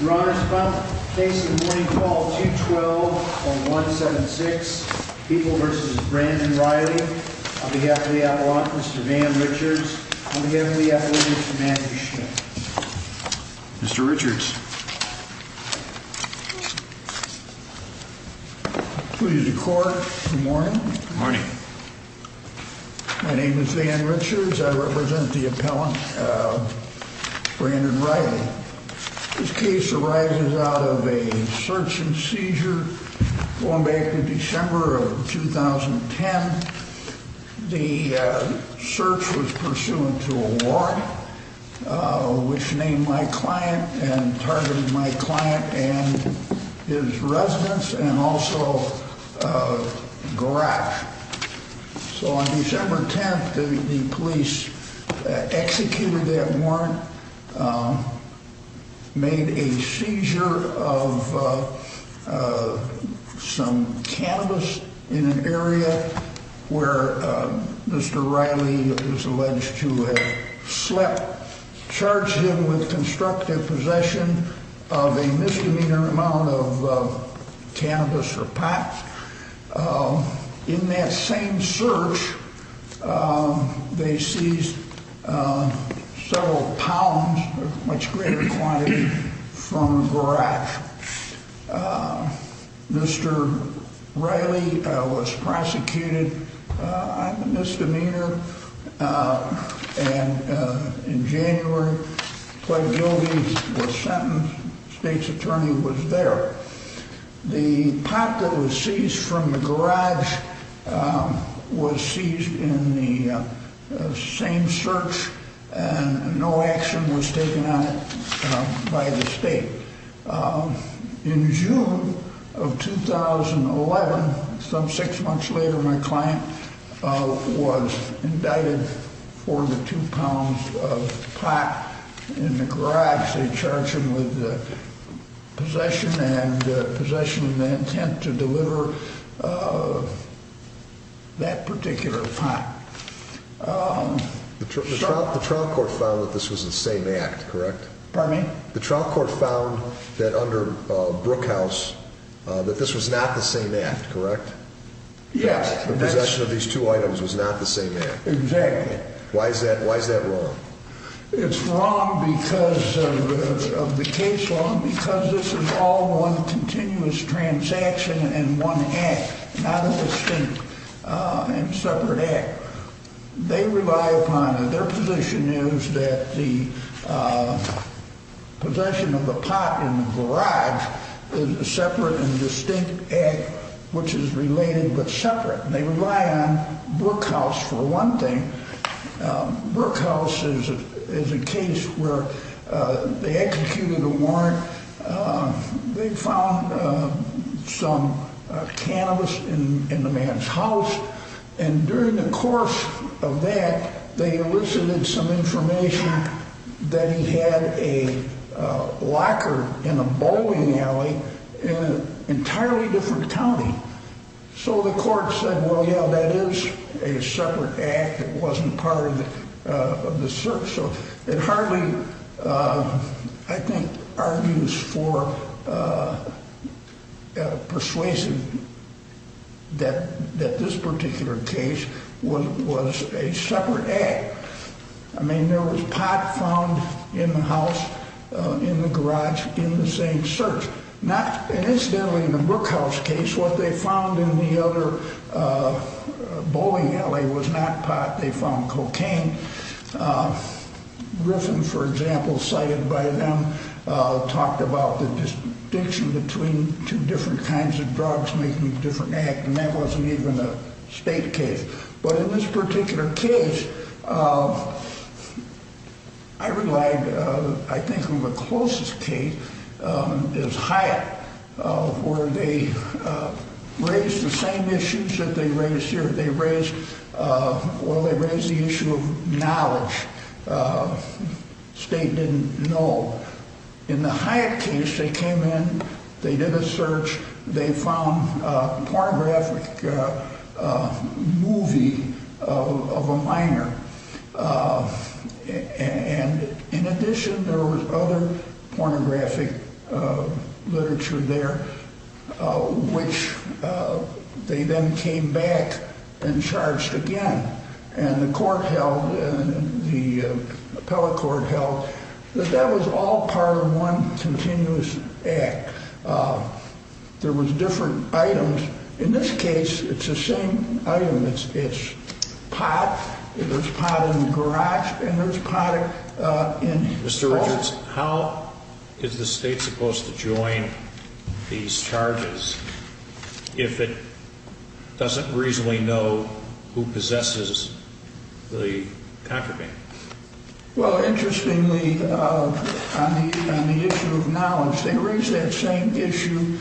We're on our spot facing the morning call, 212 on 176, People v. Brandon Riley. On behalf of the Appellant, Mr. Van Richards. On behalf of the Appellant, Mr. Matthew Schmidt. Mr. Richards. Good morning. Good morning. My name is Van Richards. I represent the Appellant, Brandon Riley. This case arises out of a search and seizure going back to December of 2010. The search was pursuant to a warrant which named my client and targeted my client and his residence and also a garage. So on December 10th, the police executed that warrant, made a seizure of some cannabis in an area where Mr. Riley is alleged to have slept, charged him with constructive possession of a misdemeanor amount of cannabis or pot. In that same search, they seized several pounds, a much greater quantity, from a garage. Mr. Riley was prosecuted on the misdemeanor and in January, pled guilty to the sentence. The state's attorney was there. The pot that was seized from the garage was seized in the same search and no action was taken on it by the state. In June of 2011, some six months later, my client was indicted for the two pounds of pot in the garage. They charged him with possession and possession of the intent to deliver that particular pot. The trial court found that this was the same act, correct? Pardon me? The trial court found that under Brookhouse, that this was not the same act, correct? Yes. The possession of these two items was not the same act. Exactly. Why is that wrong? It's wrong because of the case law and because this is all one continuous transaction and one act, not a distinct and separate act. They rely upon, their position is that the possession of the pot in the garage is a separate and distinct act which is related but separate. They rely on Brookhouse for one thing. Brookhouse is a case where they executed a warrant. They found some cannabis in the man's house and during the course of that, they elicited some information that he had a locker in a bowling alley in an entirely different county. So the court said, well, yeah, that is a separate act. It wasn't part of the search. So it hardly, I think, argues for persuasion that this particular case was a separate act. I mean, there was pot found in the house, in the garage, in the same search. Incidentally, in the Brookhouse case, what they found in the other bowling alley was not pot. They found cocaine. Griffin, for example, cited by them, talked about the distinction between two different kinds of drugs making a different act and that wasn't even a state case. But in this particular case, I relied, I think, on the closest case is Hyatt where they raised the same issues that they raised here. They raised, well, they raised the issue of knowledge. State didn't know. In the Hyatt case, they came in, they did a search. They found a pornographic movie of a minor. And in addition, there was other pornographic literature there, which they then came back and charged again. And the court held, the appellate court held, that that was all part of one continuous act. There was different items. In this case, it's the same item. It's pot. There's pot in the garage and there's pot in the hall. Mr. Richards, how is the state supposed to join these charges if it doesn't reasonably know who possesses the contraband? Well, interestingly, on the issue of knowledge, they raised that same issue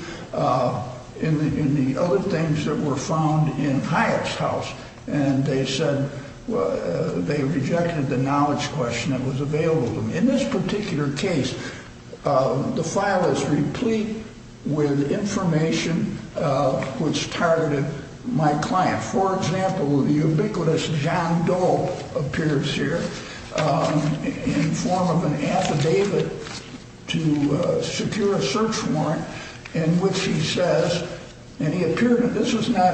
in the other things that were found in Hyatt's house. And they said they rejected the knowledge question that was available to them. In this particular case, the file is replete with information which targeted my client. For example, the ubiquitous John Doe appears here in form of an affidavit to secure a search warrant in which he says, and he appeared, this was not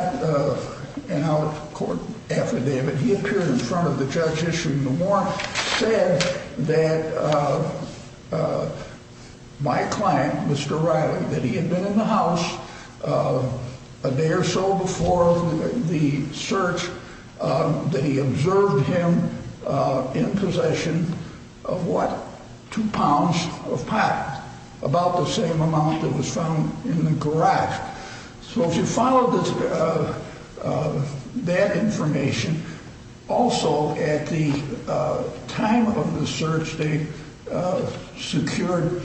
an out-of-court affidavit, he appeared in front of the judge issuing the warrant, said that my client, Mr. Riley, that he had been in the house a day or so before the search, that he observed him in possession of, what, two pounds of pot, about the same amount that was found in the garage. So if you follow that information, also at the time of the search, they secured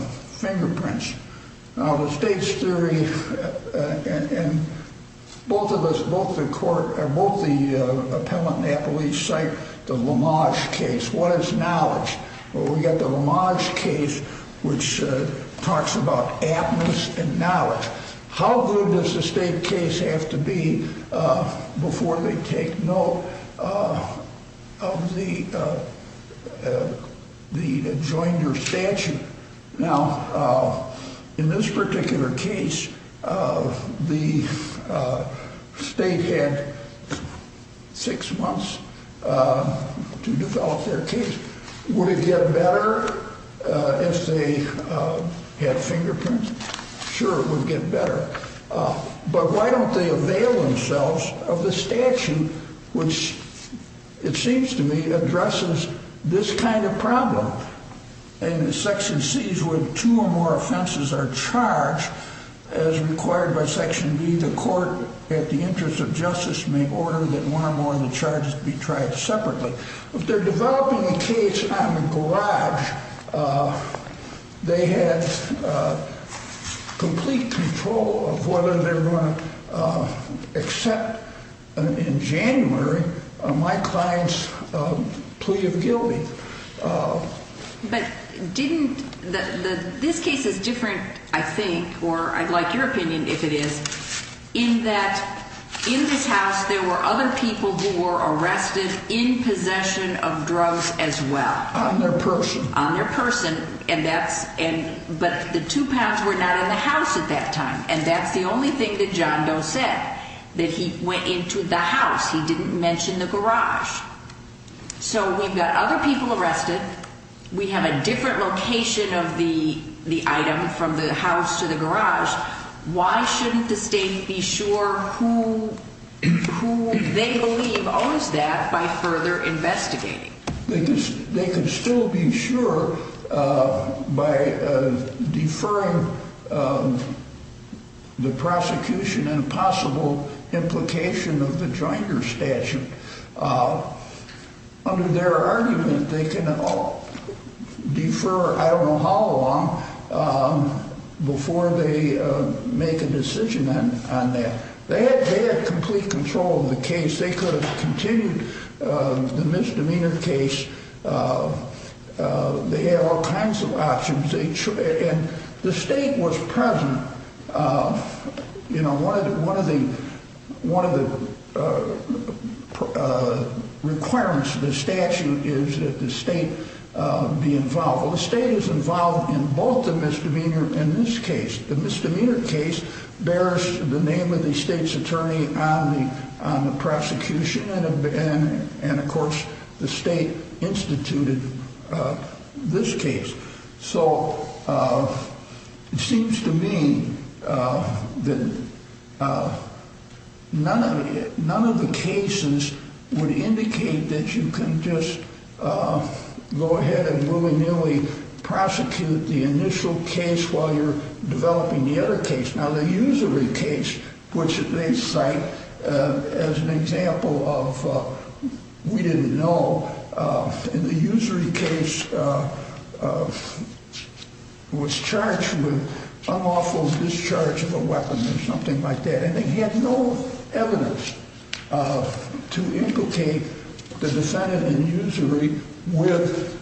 fingerprints. Now, the state's theory, and both of us, both the court, both the appellant and the police cite the Lamarge case, what is knowledge? Well, we've got the Lamarge case, which talks about aptness and knowledge. How good does the state case have to be before they take note of the adjoinder statute? Now, in this particular case, the state had six months to develop their case. Would it get better if they had fingerprints? Sure, it would get better. But why don't they avail themselves of the statute which, it seems to me, addresses this kind of problem? In Section C's where two or more offenses are charged, as required by Section B, the court, at the interest of justice, may order that one or more of the charges be tried separately. If they're developing a case on the garage, they have complete control of whether they're going to accept, in January, my client's plea of guilty. But this case is different, I think, or I'd like your opinion if it is, in that in this house there were other people who were arrested in possession of drugs as well. On their person. On their person, but the two pounds were not in the house at that time. And that's the only thing that John Doe said, that he went into the house. He didn't mention the garage. So we've got other people arrested. We have a different location of the item from the house to the garage. Why shouldn't the state be sure who they believe owns that by further investigating? They could still be sure by deferring the prosecution and possible implication of the Joinder statute. Under their argument, they can defer, I don't know how long, before they make a decision on that. They had complete control of the case. They could have continued the misdemeanor case. They had all kinds of options. And the state was present. You know, one of the requirements of the statute is that the state be involved. Well, the state is involved in both the misdemeanor and this case. The misdemeanor case bears the name of the state's attorney on the prosecution. And, of course, the state instituted this case. So it seems to me that none of the cases would indicate that you can just go ahead and willy-nilly prosecute the initial case while you're developing the other case. Now, the usury case, which they cite as an example of we didn't know. The usury case was charged with unlawful discharge of a weapon or something like that. And they had no evidence to implicate the defendant in usury with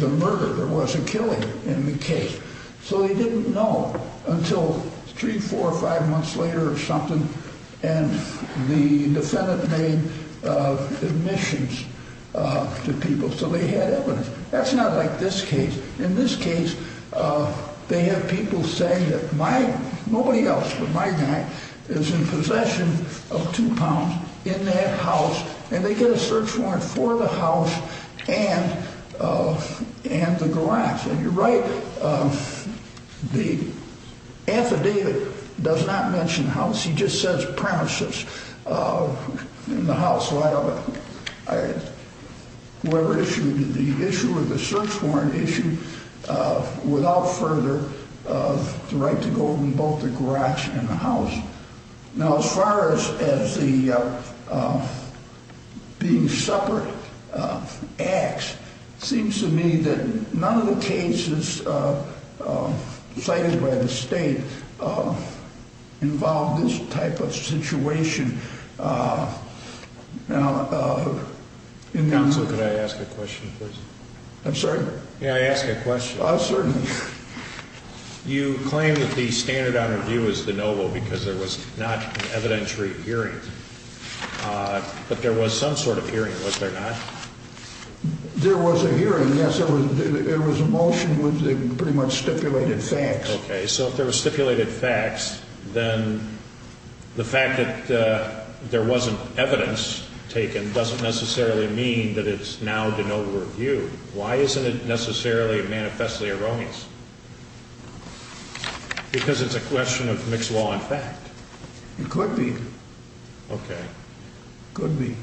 the murder. There was a killing in the case. So they didn't know until three, four, five months later or something. And the defendant made admissions to people. So they had evidence. That's not like this case. In this case, they have people saying that my guy, nobody else but my guy, is in possession of two pounds in that house. And they get a search warrant for the house and the garage. And you're right. The affidavit does not mention house. He just says premises in the house. Whoever issued the issue of the search warrant issued without further the right to go in both the garage and the house. Now, as far as the being separate acts, it seems to me that none of the cases cited by the state involve this type of situation. Counsel, could I ask a question, please? I'm sorry? May I ask a question? Certainly. You claim that the standard on review is de novo because there was not an evidentiary hearing. But there was some sort of hearing, was there not? There was a hearing, yes. There was a motion with pretty much stipulated facts. Okay. So if there were stipulated facts, then the fact that there wasn't evidence taken doesn't necessarily mean that it's now de novo review. Why isn't it necessarily manifestly erroneous? Because it's a question of mixed law and fact. It could be. Okay. It could be.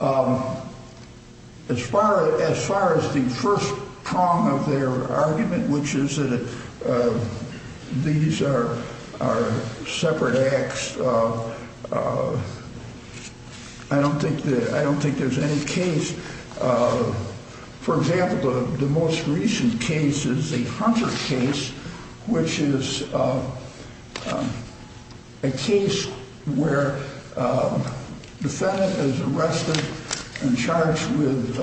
As far as the first prong of their argument, which is that these are separate acts, I don't think there's any case. For example, the most recent case is the Hunter case, which is a case where a defendant is arrested and charged with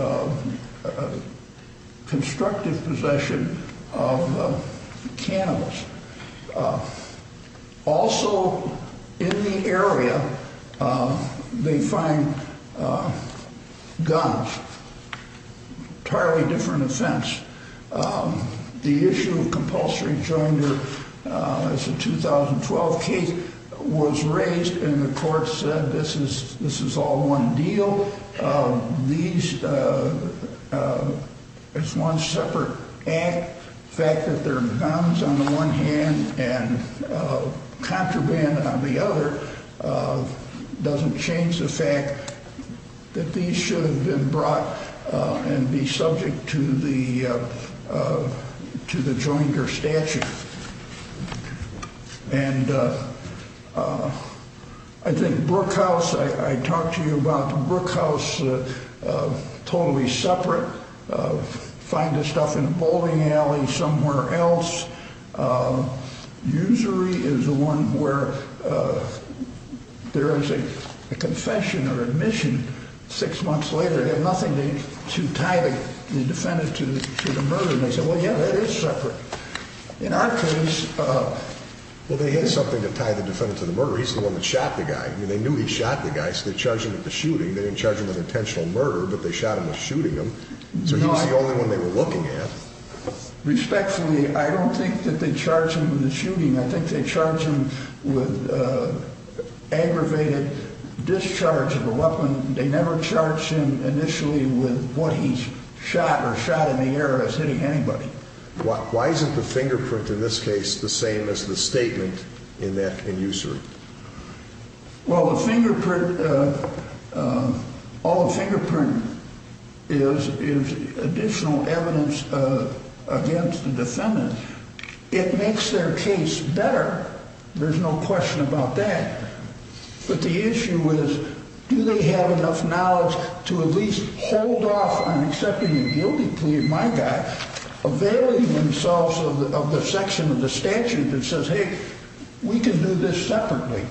constructive possession of cannabis. Also, in the area, they find guns. Entirely different offense. The issue of compulsory joinder as a 2012 case was raised and the court said this is all one deal. It's one separate act. The fact that there are guns on the one hand and contraband on the other doesn't change the fact that these should have been brought and be subject to the joinder statute. And I think Brookhouse, I talked to you about Brookhouse totally separate. Find this stuff in a bowling alley somewhere else. Usury is the one where there is a confession or admission six months later. They have nothing to tie the defendant to the murder. And they say, well, yeah, that is separate. In our case, well, they had something to tie the defendant to the murder. He's the one that shot the guy. They knew he shot the guy. So they charged him with the shooting. They didn't charge him with intentional murder, but they shot him with shooting him. So he's the only one they were looking at. Respectfully, I don't think that they charge him with the shooting. I think they charge him with aggravated discharge of a weapon. They never charged him initially with what he's shot or shot in the air as hitting anybody. Why isn't the fingerprint in this case the same as the statement in that in user? Well, the fingerprint, all the fingerprint is additional evidence against the defendant. It makes their case better. There's no question about that. But the issue is, do they have enough knowledge to at least hold off on accepting the guilty plea of my guy, availing themselves of the section of the statute that says, hey, we can do this separately.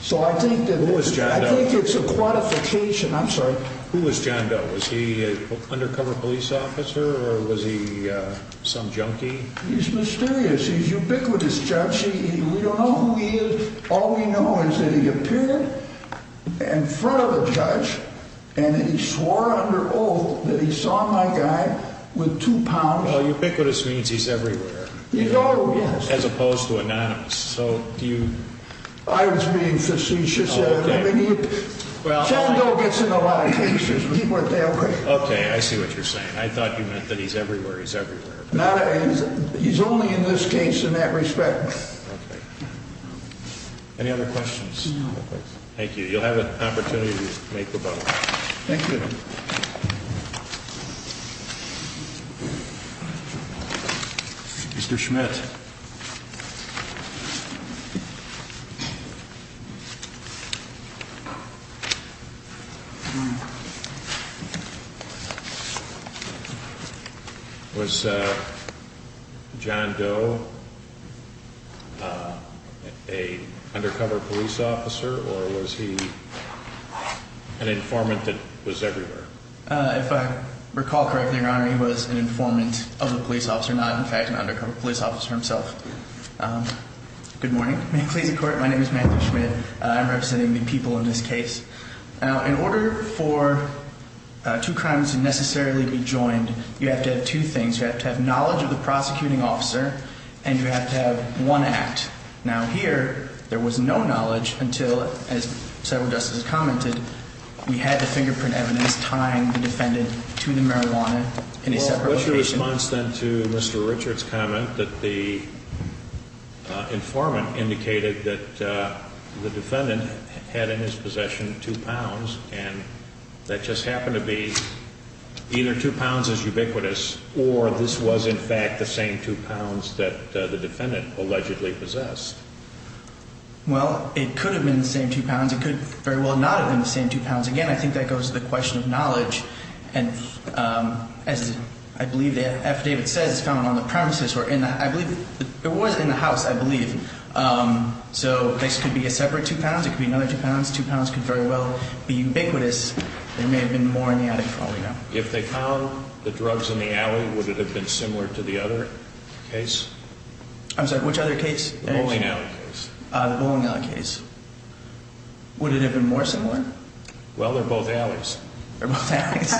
So I think it's a quantification. I'm sorry. Who was John Doe? Was he an undercover police officer or was he some junkie? He's mysterious. He's ubiquitous, Judge. We don't know who he is. All we know is that he appeared in front of a judge and he swore under oath that he saw my guy with two pounds. Well, ubiquitous means he's everywhere. Oh, yes. As opposed to anonymous. I was being facetious there. John Doe gets in a lot of cases. He went that way. Okay. I see what you're saying. I thought you meant that he's everywhere. He's everywhere. He's only in this case in that respect. Okay. Any other questions? No. Thank you. You'll have an opportunity to make the vote. Thank you. Mr. Schmidt. Mr. Schmidt. Was John Doe an undercover police officer or was he an informant that was everywhere? If I recall correctly, Your Honor, he was an informant of a police officer, not, in fact, an undercover police officer himself. Good morning. May it please the Court, my name is Matthew Schmidt. I'm representing the people in this case. Now, in order for two crimes to necessarily be joined, you have to have two things. You have to have knowledge of the prosecuting officer and you have to have one act. Now, here, there was no knowledge until, as several justices commented, we had the fingerprint evidence tying the defendant to the marijuana in a separate location. Well, what's your response then to Mr. Richard's comment that the informant indicated that the defendant had in his possession two pounds and that just happened to be either two pounds is ubiquitous or this was, in fact, the same two pounds that the defendant allegedly possessed? Well, it could have been the same two pounds. It could very well not have been the same two pounds. Again, I think that goes to the question of knowledge. And as I believe that affidavit says, it's found on the premises. I believe it was in the house, I believe. So this could be a separate two pounds. It could be another two pounds. Two pounds could very well be ubiquitous. There may have been more in the attic falling down. If they found the drugs in the alley, would it have been similar to the other case? I'm sorry, which other case? The bowling alley case. The bowling alley case. Would it have been more similar? Well, they're both alleys. They're both alleys.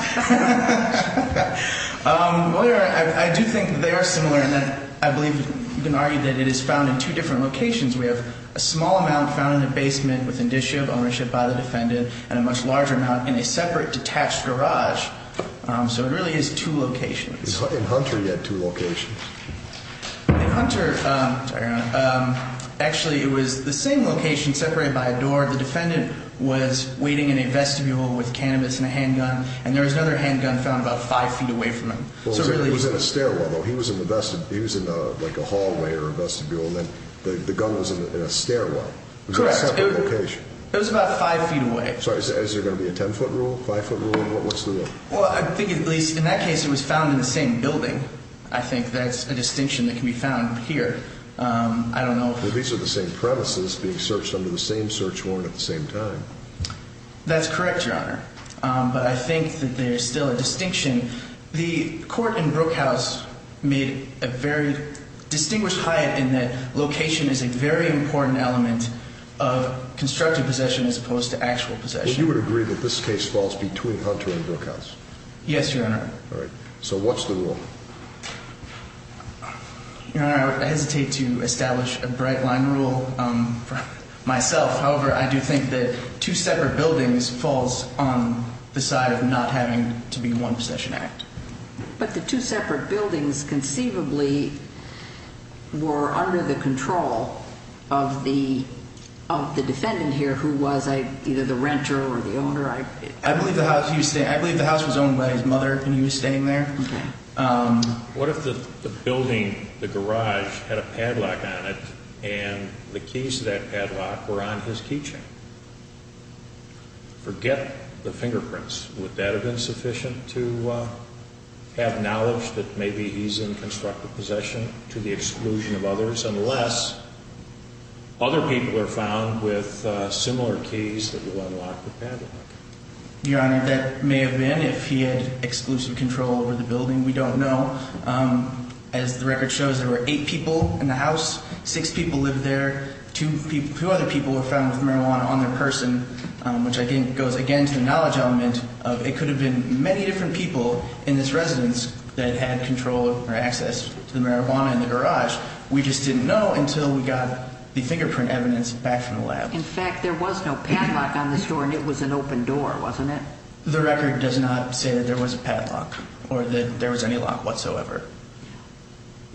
Well, I do think they are similar in that I believe you can argue that it is found in two different locations. We have a small amount found in a basement with indicia of ownership by the defendant and a much larger amount in a separate detached garage. So it really is two locations. In Hunter, you had two locations. In Hunter, actually, it was the same location separated by a door. The defendant was waiting in a vestibule with cannabis and a handgun, and there was another handgun found about five feet away from him. He was in a stairwell, though. He was in a hallway or a vestibule. The gun was in a stairwell. It was a separate location. It was about five feet away. Sorry, is there going to be a ten-foot rule, five-foot rule? What's the rule? Well, I think at least in that case it was found in the same building. I think that's a distinction that can be found here. I don't know. These are the same premises being searched under the same search warrant at the same time. That's correct, Your Honor. But I think that there's still a distinction. The court in Brookhouse made a very distinguished hide in that location is a very important element of constructive possession as opposed to actual possession. But you would agree that this case falls between Hunter and Brookhouse? Yes, Your Honor. All right. So what's the rule? Your Honor, I hesitate to establish a bright-line rule myself. However, I do think that two separate buildings falls on the side of not having to be one possession act. But the two separate buildings conceivably were under the control of the defendant here who was either the renter or the owner. I believe the house was owned by his mother when he was staying there. Okay. What if the building, the garage, had a padlock on it and the keys to that padlock were on his keychain? Forget the fingerprints. Would that have been sufficient to have knowledge that maybe he's in constructive possession to the exclusion of others unless other people are found with similar keys that will unlock the padlock? Your Honor, that may have been if he had exclusive control over the building. We don't know. As the record shows, there were eight people in the house. Six people lived there. Two other people were found with marijuana on their person, which I think goes, again, to the knowledge element. It could have been many different people in this residence that had control or access to the marijuana in the garage. We just didn't know until we got the fingerprint evidence back from the lab. In fact, there was no padlock on this door, and it was an open door, wasn't it? The record does not say that there was a padlock or that there was any lock whatsoever.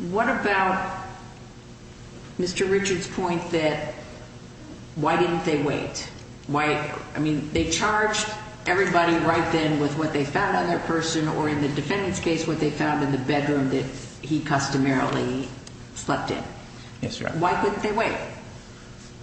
What about Mr. Richard's point that why didn't they wait? I mean, they charged everybody right then with what they found on their person or in the defendant's case what they found in the bedroom that he customarily slept in. Yes, Your Honor. Why couldn't they wait?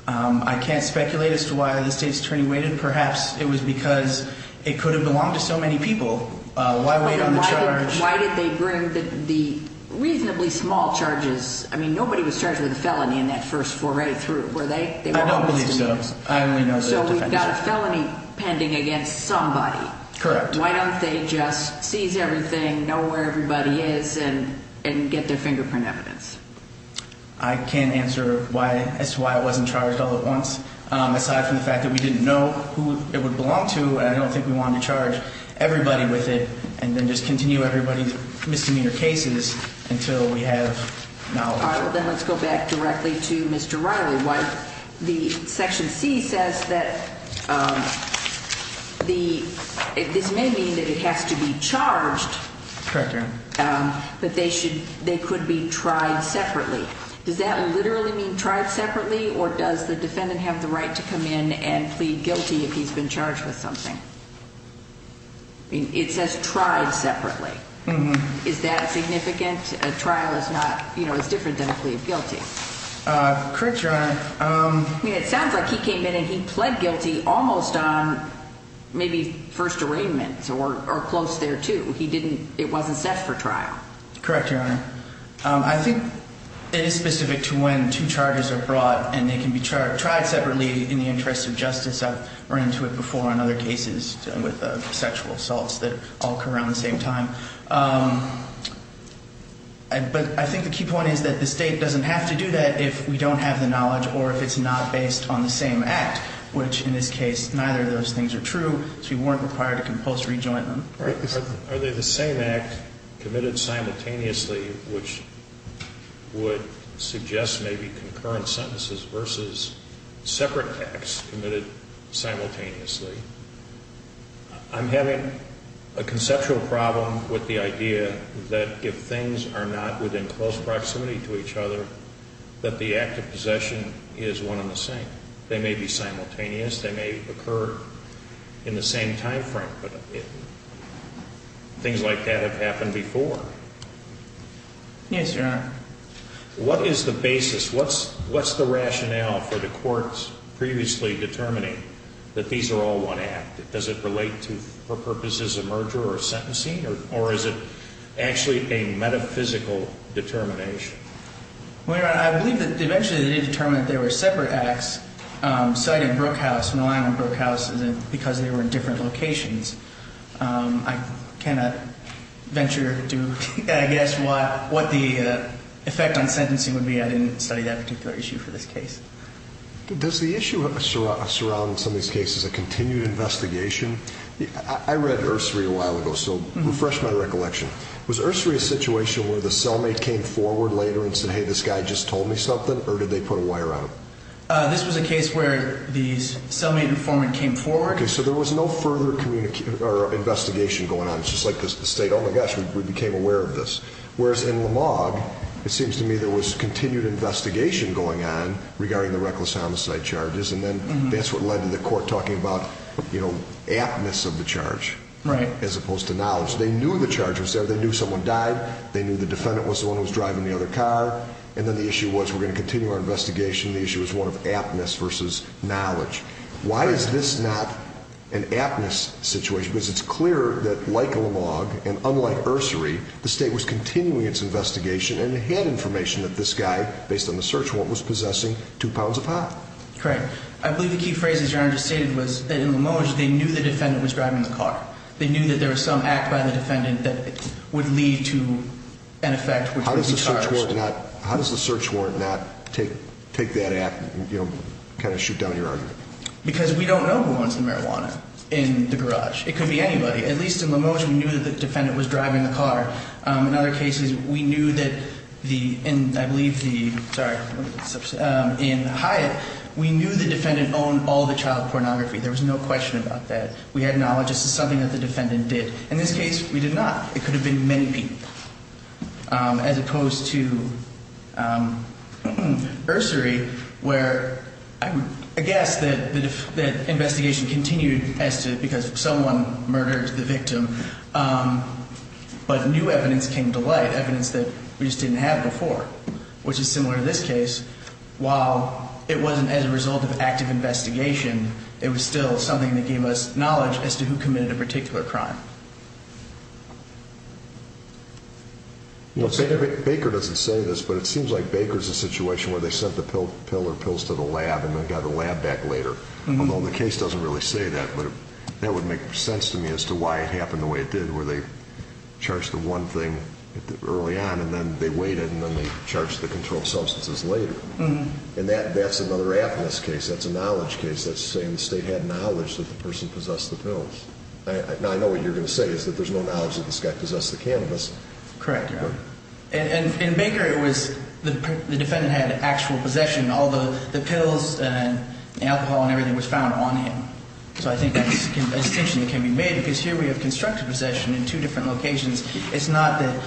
I can't speculate as to why the state attorney waited. Perhaps it was because it could have belonged to so many people. Why wait on the charge? Why did they bring the reasonably small charges? I mean, nobody was charged with a felony in that first foray through, were they? I don't believe so. I only know the defense. So we've got a felony pending against somebody. Correct. Why don't they just seize everything, know where everybody is, and get their fingerprint evidence? I can't answer as to why it wasn't charged all at once. Aside from the fact that we didn't know who it would belong to, I don't think we wanted to charge everybody with it and then just continue everybody's misdemeanor cases until we have knowledge. All right, well, then let's go back directly to Mr. Riley. The Section C says that this may mean that it has to be charged. Correct, Your Honor. But they could be tried separately. Does that literally mean tried separately, or does the defendant have the right to come in and plead guilty if he's been charged with something? It says tried separately. Is that significant? A trial is different than a plea of guilty. Correct, Your Honor. It sounds like he came in and he pled guilty almost on maybe first arraignment or close thereto. It wasn't set for trial. Correct, Your Honor. I think it is specific to when two charges are brought, and they can be tried separately in the interest of justice. I've run into it before on other cases with sexual assaults that all occur around the same time. But I think the key point is that the state doesn't have to do that if we don't have the knowledge or if it's not based on the same act, which in this case, neither of those things are true, so you weren't required to compose rejoinment. Are they the same act committed simultaneously, which would suggest maybe concurrent sentences versus separate acts committed simultaneously? I'm having a conceptual problem with the idea that if things are not within close proximity to each other, that the act of possession is one and the same. They may be simultaneous. They may occur in the same time frame. But things like that have happened before. Yes, Your Honor. What is the basis? What's the rationale for the courts previously determining that these are all one act? Does it relate to, for purposes of merger or sentencing? Or is it actually a metaphysical determination? Well, Your Honor, I believe that eventually they did determine that there were separate acts, citing Brookhouse and relying on Brookhouse because they were in different locations. I cannot venture to guess what the effect on sentencing would be. I didn't study that particular issue for this case. Does the issue surrounding some of these cases a continued investigation? I read Ursery a while ago, so refresh my recollection. Was Ursery a situation where the cellmate came forward later and said, hey, this guy just told me something, or did they put a wire on him? This was a case where the cellmate informant came forward. Okay, so there was no further investigation going on. It's just like the state, oh, my gosh, we became aware of this. Whereas in Lamog, it seems to me there was continued investigation going on regarding the reckless homicide charges, and then that's what led to the court talking about aptness of the charge as opposed to knowledge. They knew the charge was there. They knew someone died. They knew the defendant was the one who was driving the other car. And then the issue was we're going to continue our investigation. The issue is one of aptness versus knowledge. Why is this not an aptness situation? Because it's clear that like Lamog and unlike Ursery, the state was continuing its investigation and had information that this guy, based on the search warrant, was possessing two pounds of pot. Correct. I believe the key phrase that Your Honor just stated was that in Lamog, they knew the defendant was driving the car. They knew that there was some act by the defendant that would lead to an effect which would be charged. How does the search warrant not take that act and, you know, kind of shoot down your argument? Because we don't know who owns the marijuana in the garage. It could be anybody. At least in Lamog, we knew that the defendant was driving the car. In other cases, we knew that in, I believe, the, sorry, in Hyatt, we knew the defendant owned all the child pornography. There was no question about that. We had knowledge this is something that the defendant did. In this case, we did not. It could have been many people as opposed to Ursery where I guess that the investigation continued as to because someone murdered the victim. But new evidence came to light, evidence that we just didn't have before, which is similar to this case. While it wasn't as a result of active investigation, it was still something that gave us knowledge as to who committed a particular crime. Baker doesn't say this, but it seems like Baker's a situation where they sent the pill or pills to the lab and then got the lab back later. Although the case doesn't really say that, but that would make sense to me as to why it happened the way it did where they charged the one thing early on and then they waited and then they charged the controlled substances later. And that's another app in this case. That's a knowledge case. That's saying the state had knowledge that the person possessed the pills. Now, I know what you're going to say is that there's no knowledge that this guy possessed the cannabis. Correct, Your Honor. And in Baker, it was the defendant had actual possession. All the pills and alcohol and everything was found on him. So I think that distinction can be made because here we have constructive possession in two different locations. It's not that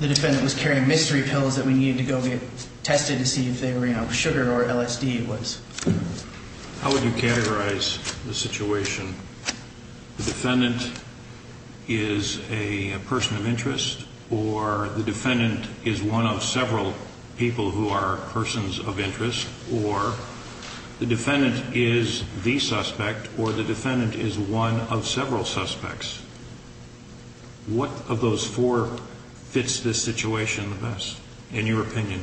the defendant was carrying mystery pills that we needed to go get tested to see if they were, you know, sugar or LSD. How would you categorize the situation? The defendant is a person of interest or the defendant is one of several people who are persons of interest or the defendant is the suspect or the defendant is one of several suspects. What of those four fits this situation the best in your opinion?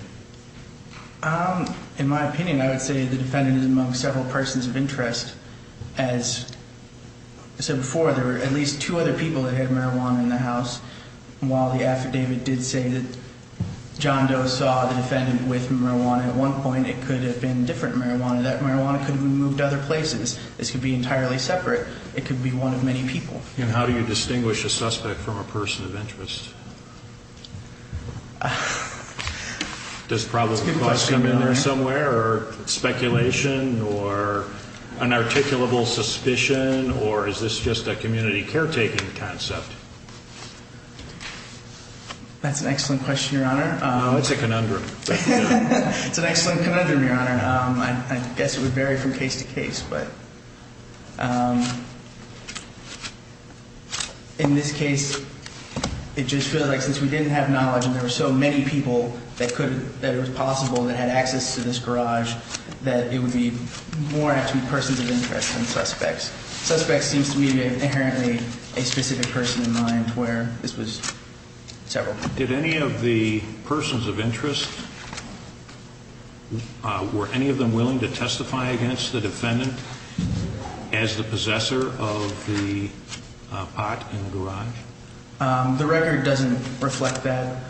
In my opinion, I would say the defendant is among several persons of interest. As I said before, there were at least two other people that had marijuana in the house. While the affidavit did say that John Doe saw the defendant with marijuana at one point, it could have been different marijuana. That marijuana could have been moved to other places. This could be entirely separate. It could be one of many people. And how do you distinguish a suspect from a person of interest? Does probable cause come in there somewhere or speculation or an articulable suspicion or is this just a community caretaking concept? That's an excellent question, Your Honor. No, it's a conundrum. It's an excellent conundrum, Your Honor. I guess it would vary from case to case. But in this case, it just feels like since we didn't have knowledge and there were so many people that it was possible that had access to this garage that it would be more actually persons of interest than suspects. Suspects seems to me to be inherently a specific person in mind where this was several. Did any of the persons of interest, were any of them willing to testify against the defendant as the possessor of the pot in the garage? The record doesn't reflect that.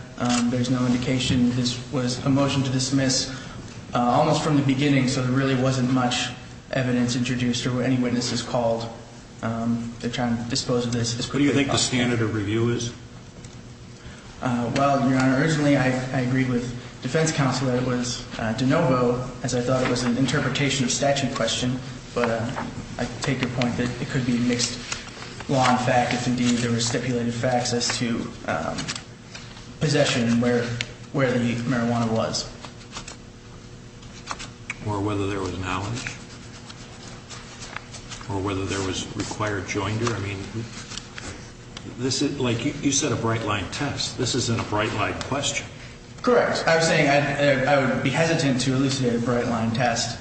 There's no indication. This was a motion to dismiss almost from the beginning, so there really wasn't much evidence introduced or any witnesses called to try and dispose of this. What do you think the standard of review is? Well, Your Honor, originally I agreed with defense counsel that it was de novo as I thought it was an interpretation of statute question, but I take your point that it could be mixed law and fact if indeed there were stipulated facts as to possession and where the marijuana was. Or whether there was knowledge? Or whether there was required joinder? I mean, you said a bright-line test. This isn't a bright-line question. Correct. I was saying I would be hesitant to elucidate a bright-line test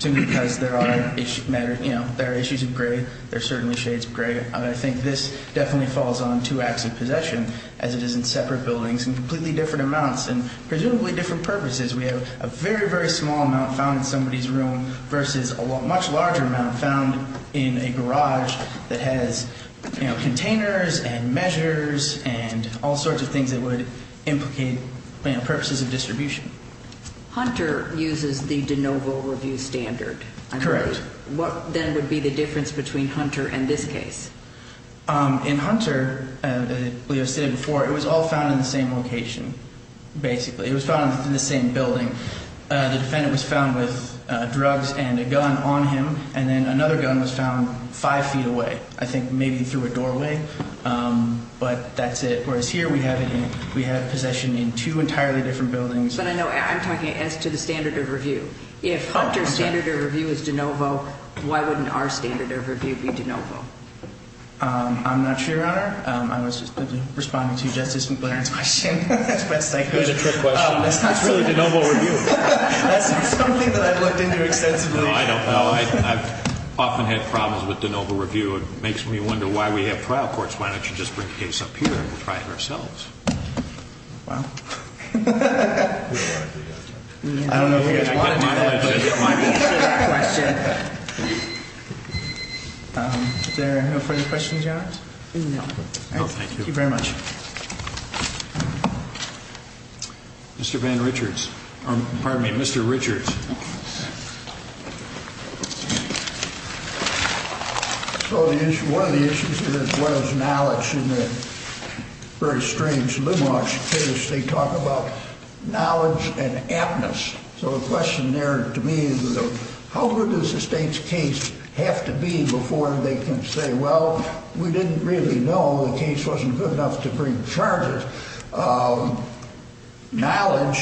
simply because there are issues of grade. There are certainly shades of gray. I think this definitely falls on two acts of possession as it is in separate buildings in completely different amounts and presumably different purposes. We have a very, very small amount found in somebody's room versus a much larger amount found in a garage that has containers and measures and all sorts of things that would implicate purposes of distribution. Hunter uses the de novo review standard. Correct. What then would be the difference between Hunter and this case? In Hunter, as Leo said before, it was all found in the same location, basically. It was found in the same building. The defendant was found with drugs and a gun on him, and then another gun was found five feet away, I think maybe through a doorway. But that's it, whereas here we have possession in two entirely different buildings. But I know I'm talking as to the standard of review. If Hunter's standard of review is de novo, why wouldn't our standard of review be de novo? I'm not sure, Your Honor. I was just responding to Justice McLaren's question. Here's a trick question. It's really de novo review. That's something that I've looked into extensively. No, I don't know. I've often had problems with de novo review. It makes me wonder why we have trial courts. Why don't you just bring the case up here and we'll try it ourselves? Wow. I don't know if you guys want to do that, but it's my question. Is there no further questions, Your Honor? No. No, thank you. Thank you very much. Mr. Van Richards. Pardon me, Mr. Richards. One of the issues here is what is knowledge. In the very strange limoge case, they talk about knowledge and aptness. So the question there to me is how good does the state's case have to be before they can say, well, we didn't really know. The case wasn't good enough to bring charges. Knowledge,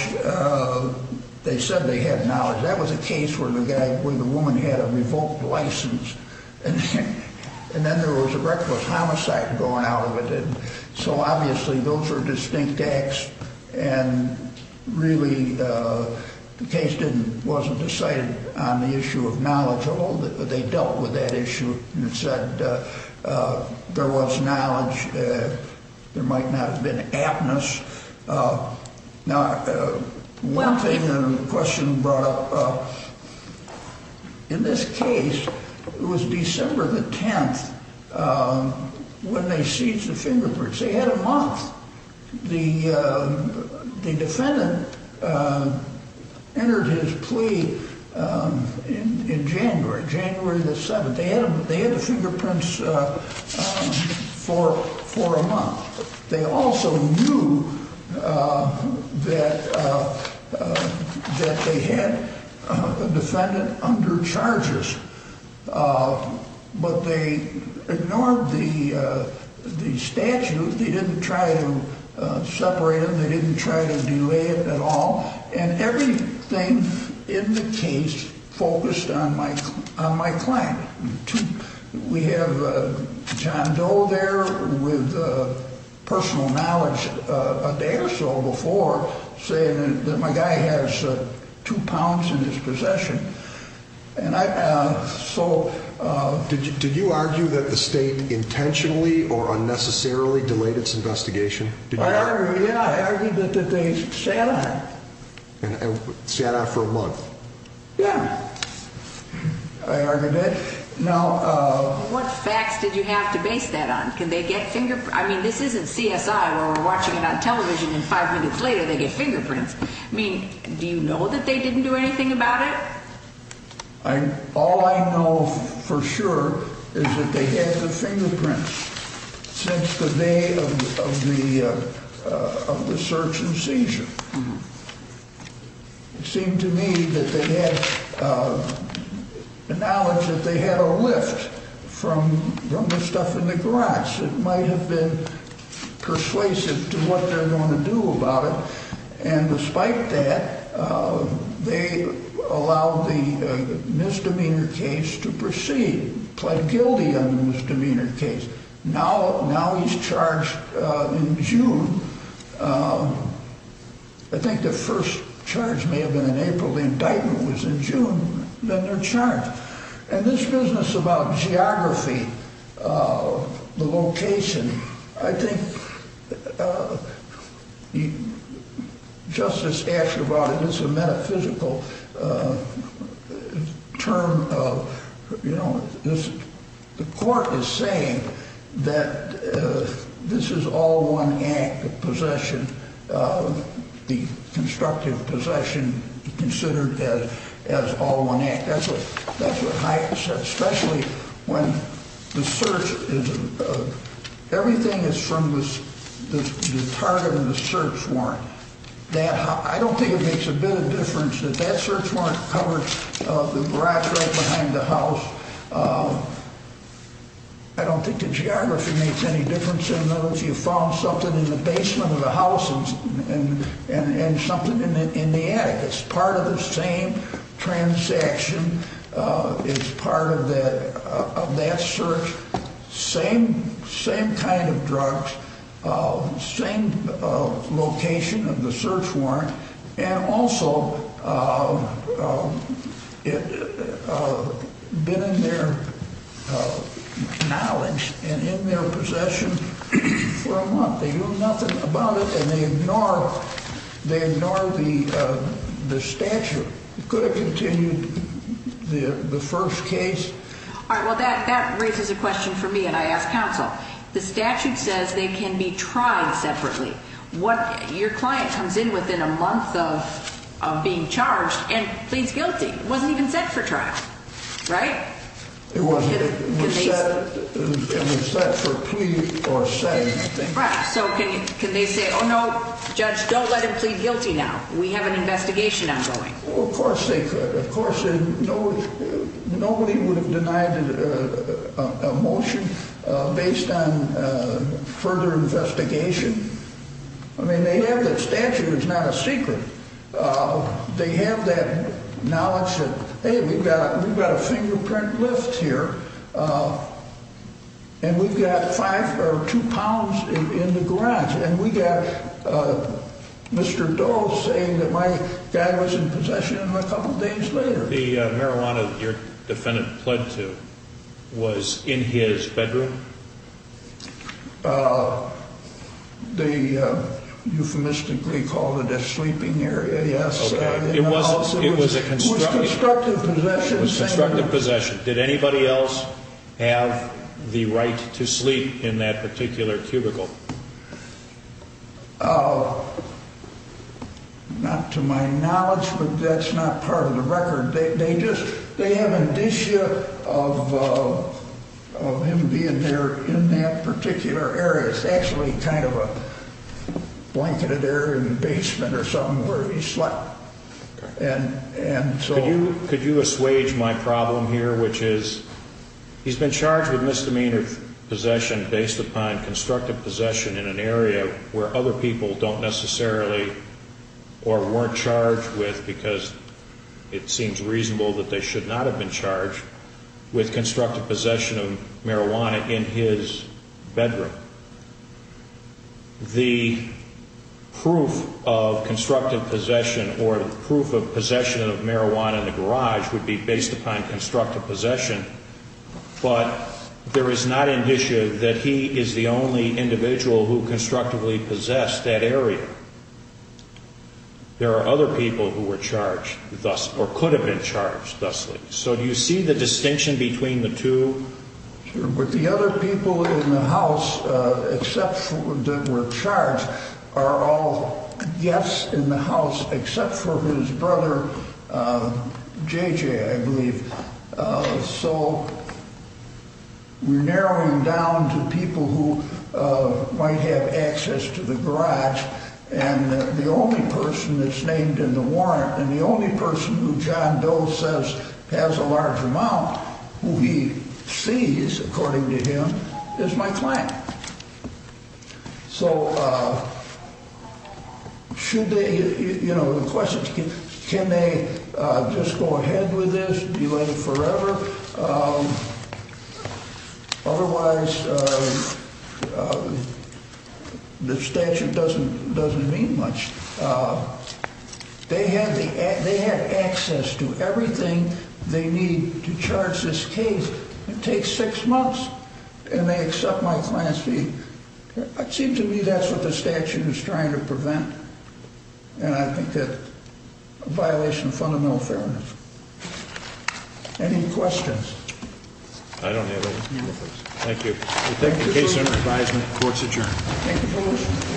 they said they had knowledge. That was a case where the woman had a revoked license, and then there was a reckless homicide going out of it. So obviously those were distinct acts, and really the case wasn't decided on the issue of knowledge. They dealt with that issue and said there was knowledge. There might not have been aptness. Now, one thing the question brought up, in this case it was December the 10th when they seized the fingerprints. They had a month. The defendant entered his plea in January, January the 7th. They had the fingerprints for a month. They also knew that they had a defendant under charges, but they ignored the statute. They didn't try to separate them. They didn't try to delay it at all. And everything in the case focused on my client. We have John Doe there with personal knowledge a day or so before saying that my guy has two pounds in his possession. So did you argue that the state intentionally or unnecessarily delayed its investigation? Yeah, I argued that they sat on it. Sat on it for a month? Yeah, I argued that. Now, what facts did you have to base that on? I mean, this isn't CSI where we're watching it on television and five minutes later they get fingerprints. I mean, do you know that they didn't do anything about it? All I know for sure is that they had the fingerprints since the day of the search and seizure. It seemed to me that they had the knowledge that they had a lift from the stuff in the garage that might have been persuasive to what they're going to do about it. And despite that, they allowed the misdemeanor case to proceed, pled guilty on the misdemeanor case. Now he's charged in June. I think the first charge may have been in April. The indictment was in June. Then they're charged. And this business about geography, the location, I think Justice Asher brought in this metaphysical term of, you know, the court is saying that this is all one act of possession, the constructive possession considered as all one act. That's what Hyatt said, especially when the search is, everything is from the target of the search warrant. I don't think it makes a bit of difference that that search warrant covered the garage right behind the house. I don't think the geography makes any difference in those. You found something in the basement of the house and something in the attic. It's part of the same transaction. It's part of that search. Same kind of drugs. Same location of the search warrant. And also, it's been in their knowledge and in their possession for a month. They knew nothing about it, and they ignore the statute. Could have continued the first case. All right, well, that raises a question for me, and I ask counsel. The statute says they can be tried separately. Your client comes in within a month of being charged and pleads guilty. It wasn't even set for trial, right? It wasn't. It was set for plea or setting, I think. Right. So can they say, oh, no, judge, don't let him plead guilty now. We have an investigation ongoing. Well, of course they could. Of course nobody would have denied a motion based on further investigation. I mean, they have that statute. It's not a secret. They have that knowledge that, hey, we've got a fingerprint lift here, and we've got five or two pounds in the garage, and we got Mr. Doe saying that my guy was in possession of him a couple days later. The marijuana that your defendant pled to was in his bedroom? They euphemistically called it a sleeping area, yes. Okay. It was constructive possession. It was constructive possession. Did anybody else have the right to sleep in that particular cubicle? Not to my knowledge, but that's not part of the record. They have indicia of him being there in that particular area. It's actually kind of a blanketed area in the basement or something where he slept. Could you assuage my problem here, which is he's been charged with misdemeanor possession based upon constructive possession in an area where other people don't necessarily or weren't charged with because it seems reasonable that they should not have been charged with constructive possession of marijuana in his bedroom. The proof of constructive possession or proof of possession of marijuana in the garage would be based upon constructive possession, but there is not indicia that he is the only individual who constructively possessed that area. There are other people who were charged thus or could have been charged thusly. So do you see the distinction between the two? The other people in the house that were charged are all guests in the house So we're narrowing down to people who might have access to the garage and the only person that's named in the warrant and the only person who John Doe says has a large amount who he sees, according to him, is my client. So the question is can they just go ahead with this, delay forever? Otherwise the statute doesn't mean much. They have access to everything they need to charge this case. It takes six months and they accept my client's fee. It seems to me that's what the statute is trying to prevent and I think that's a violation of fundamental fairness. Any questions? I don't have any. Thank you. The case under advisement, court's adjourned. Thank you for listening.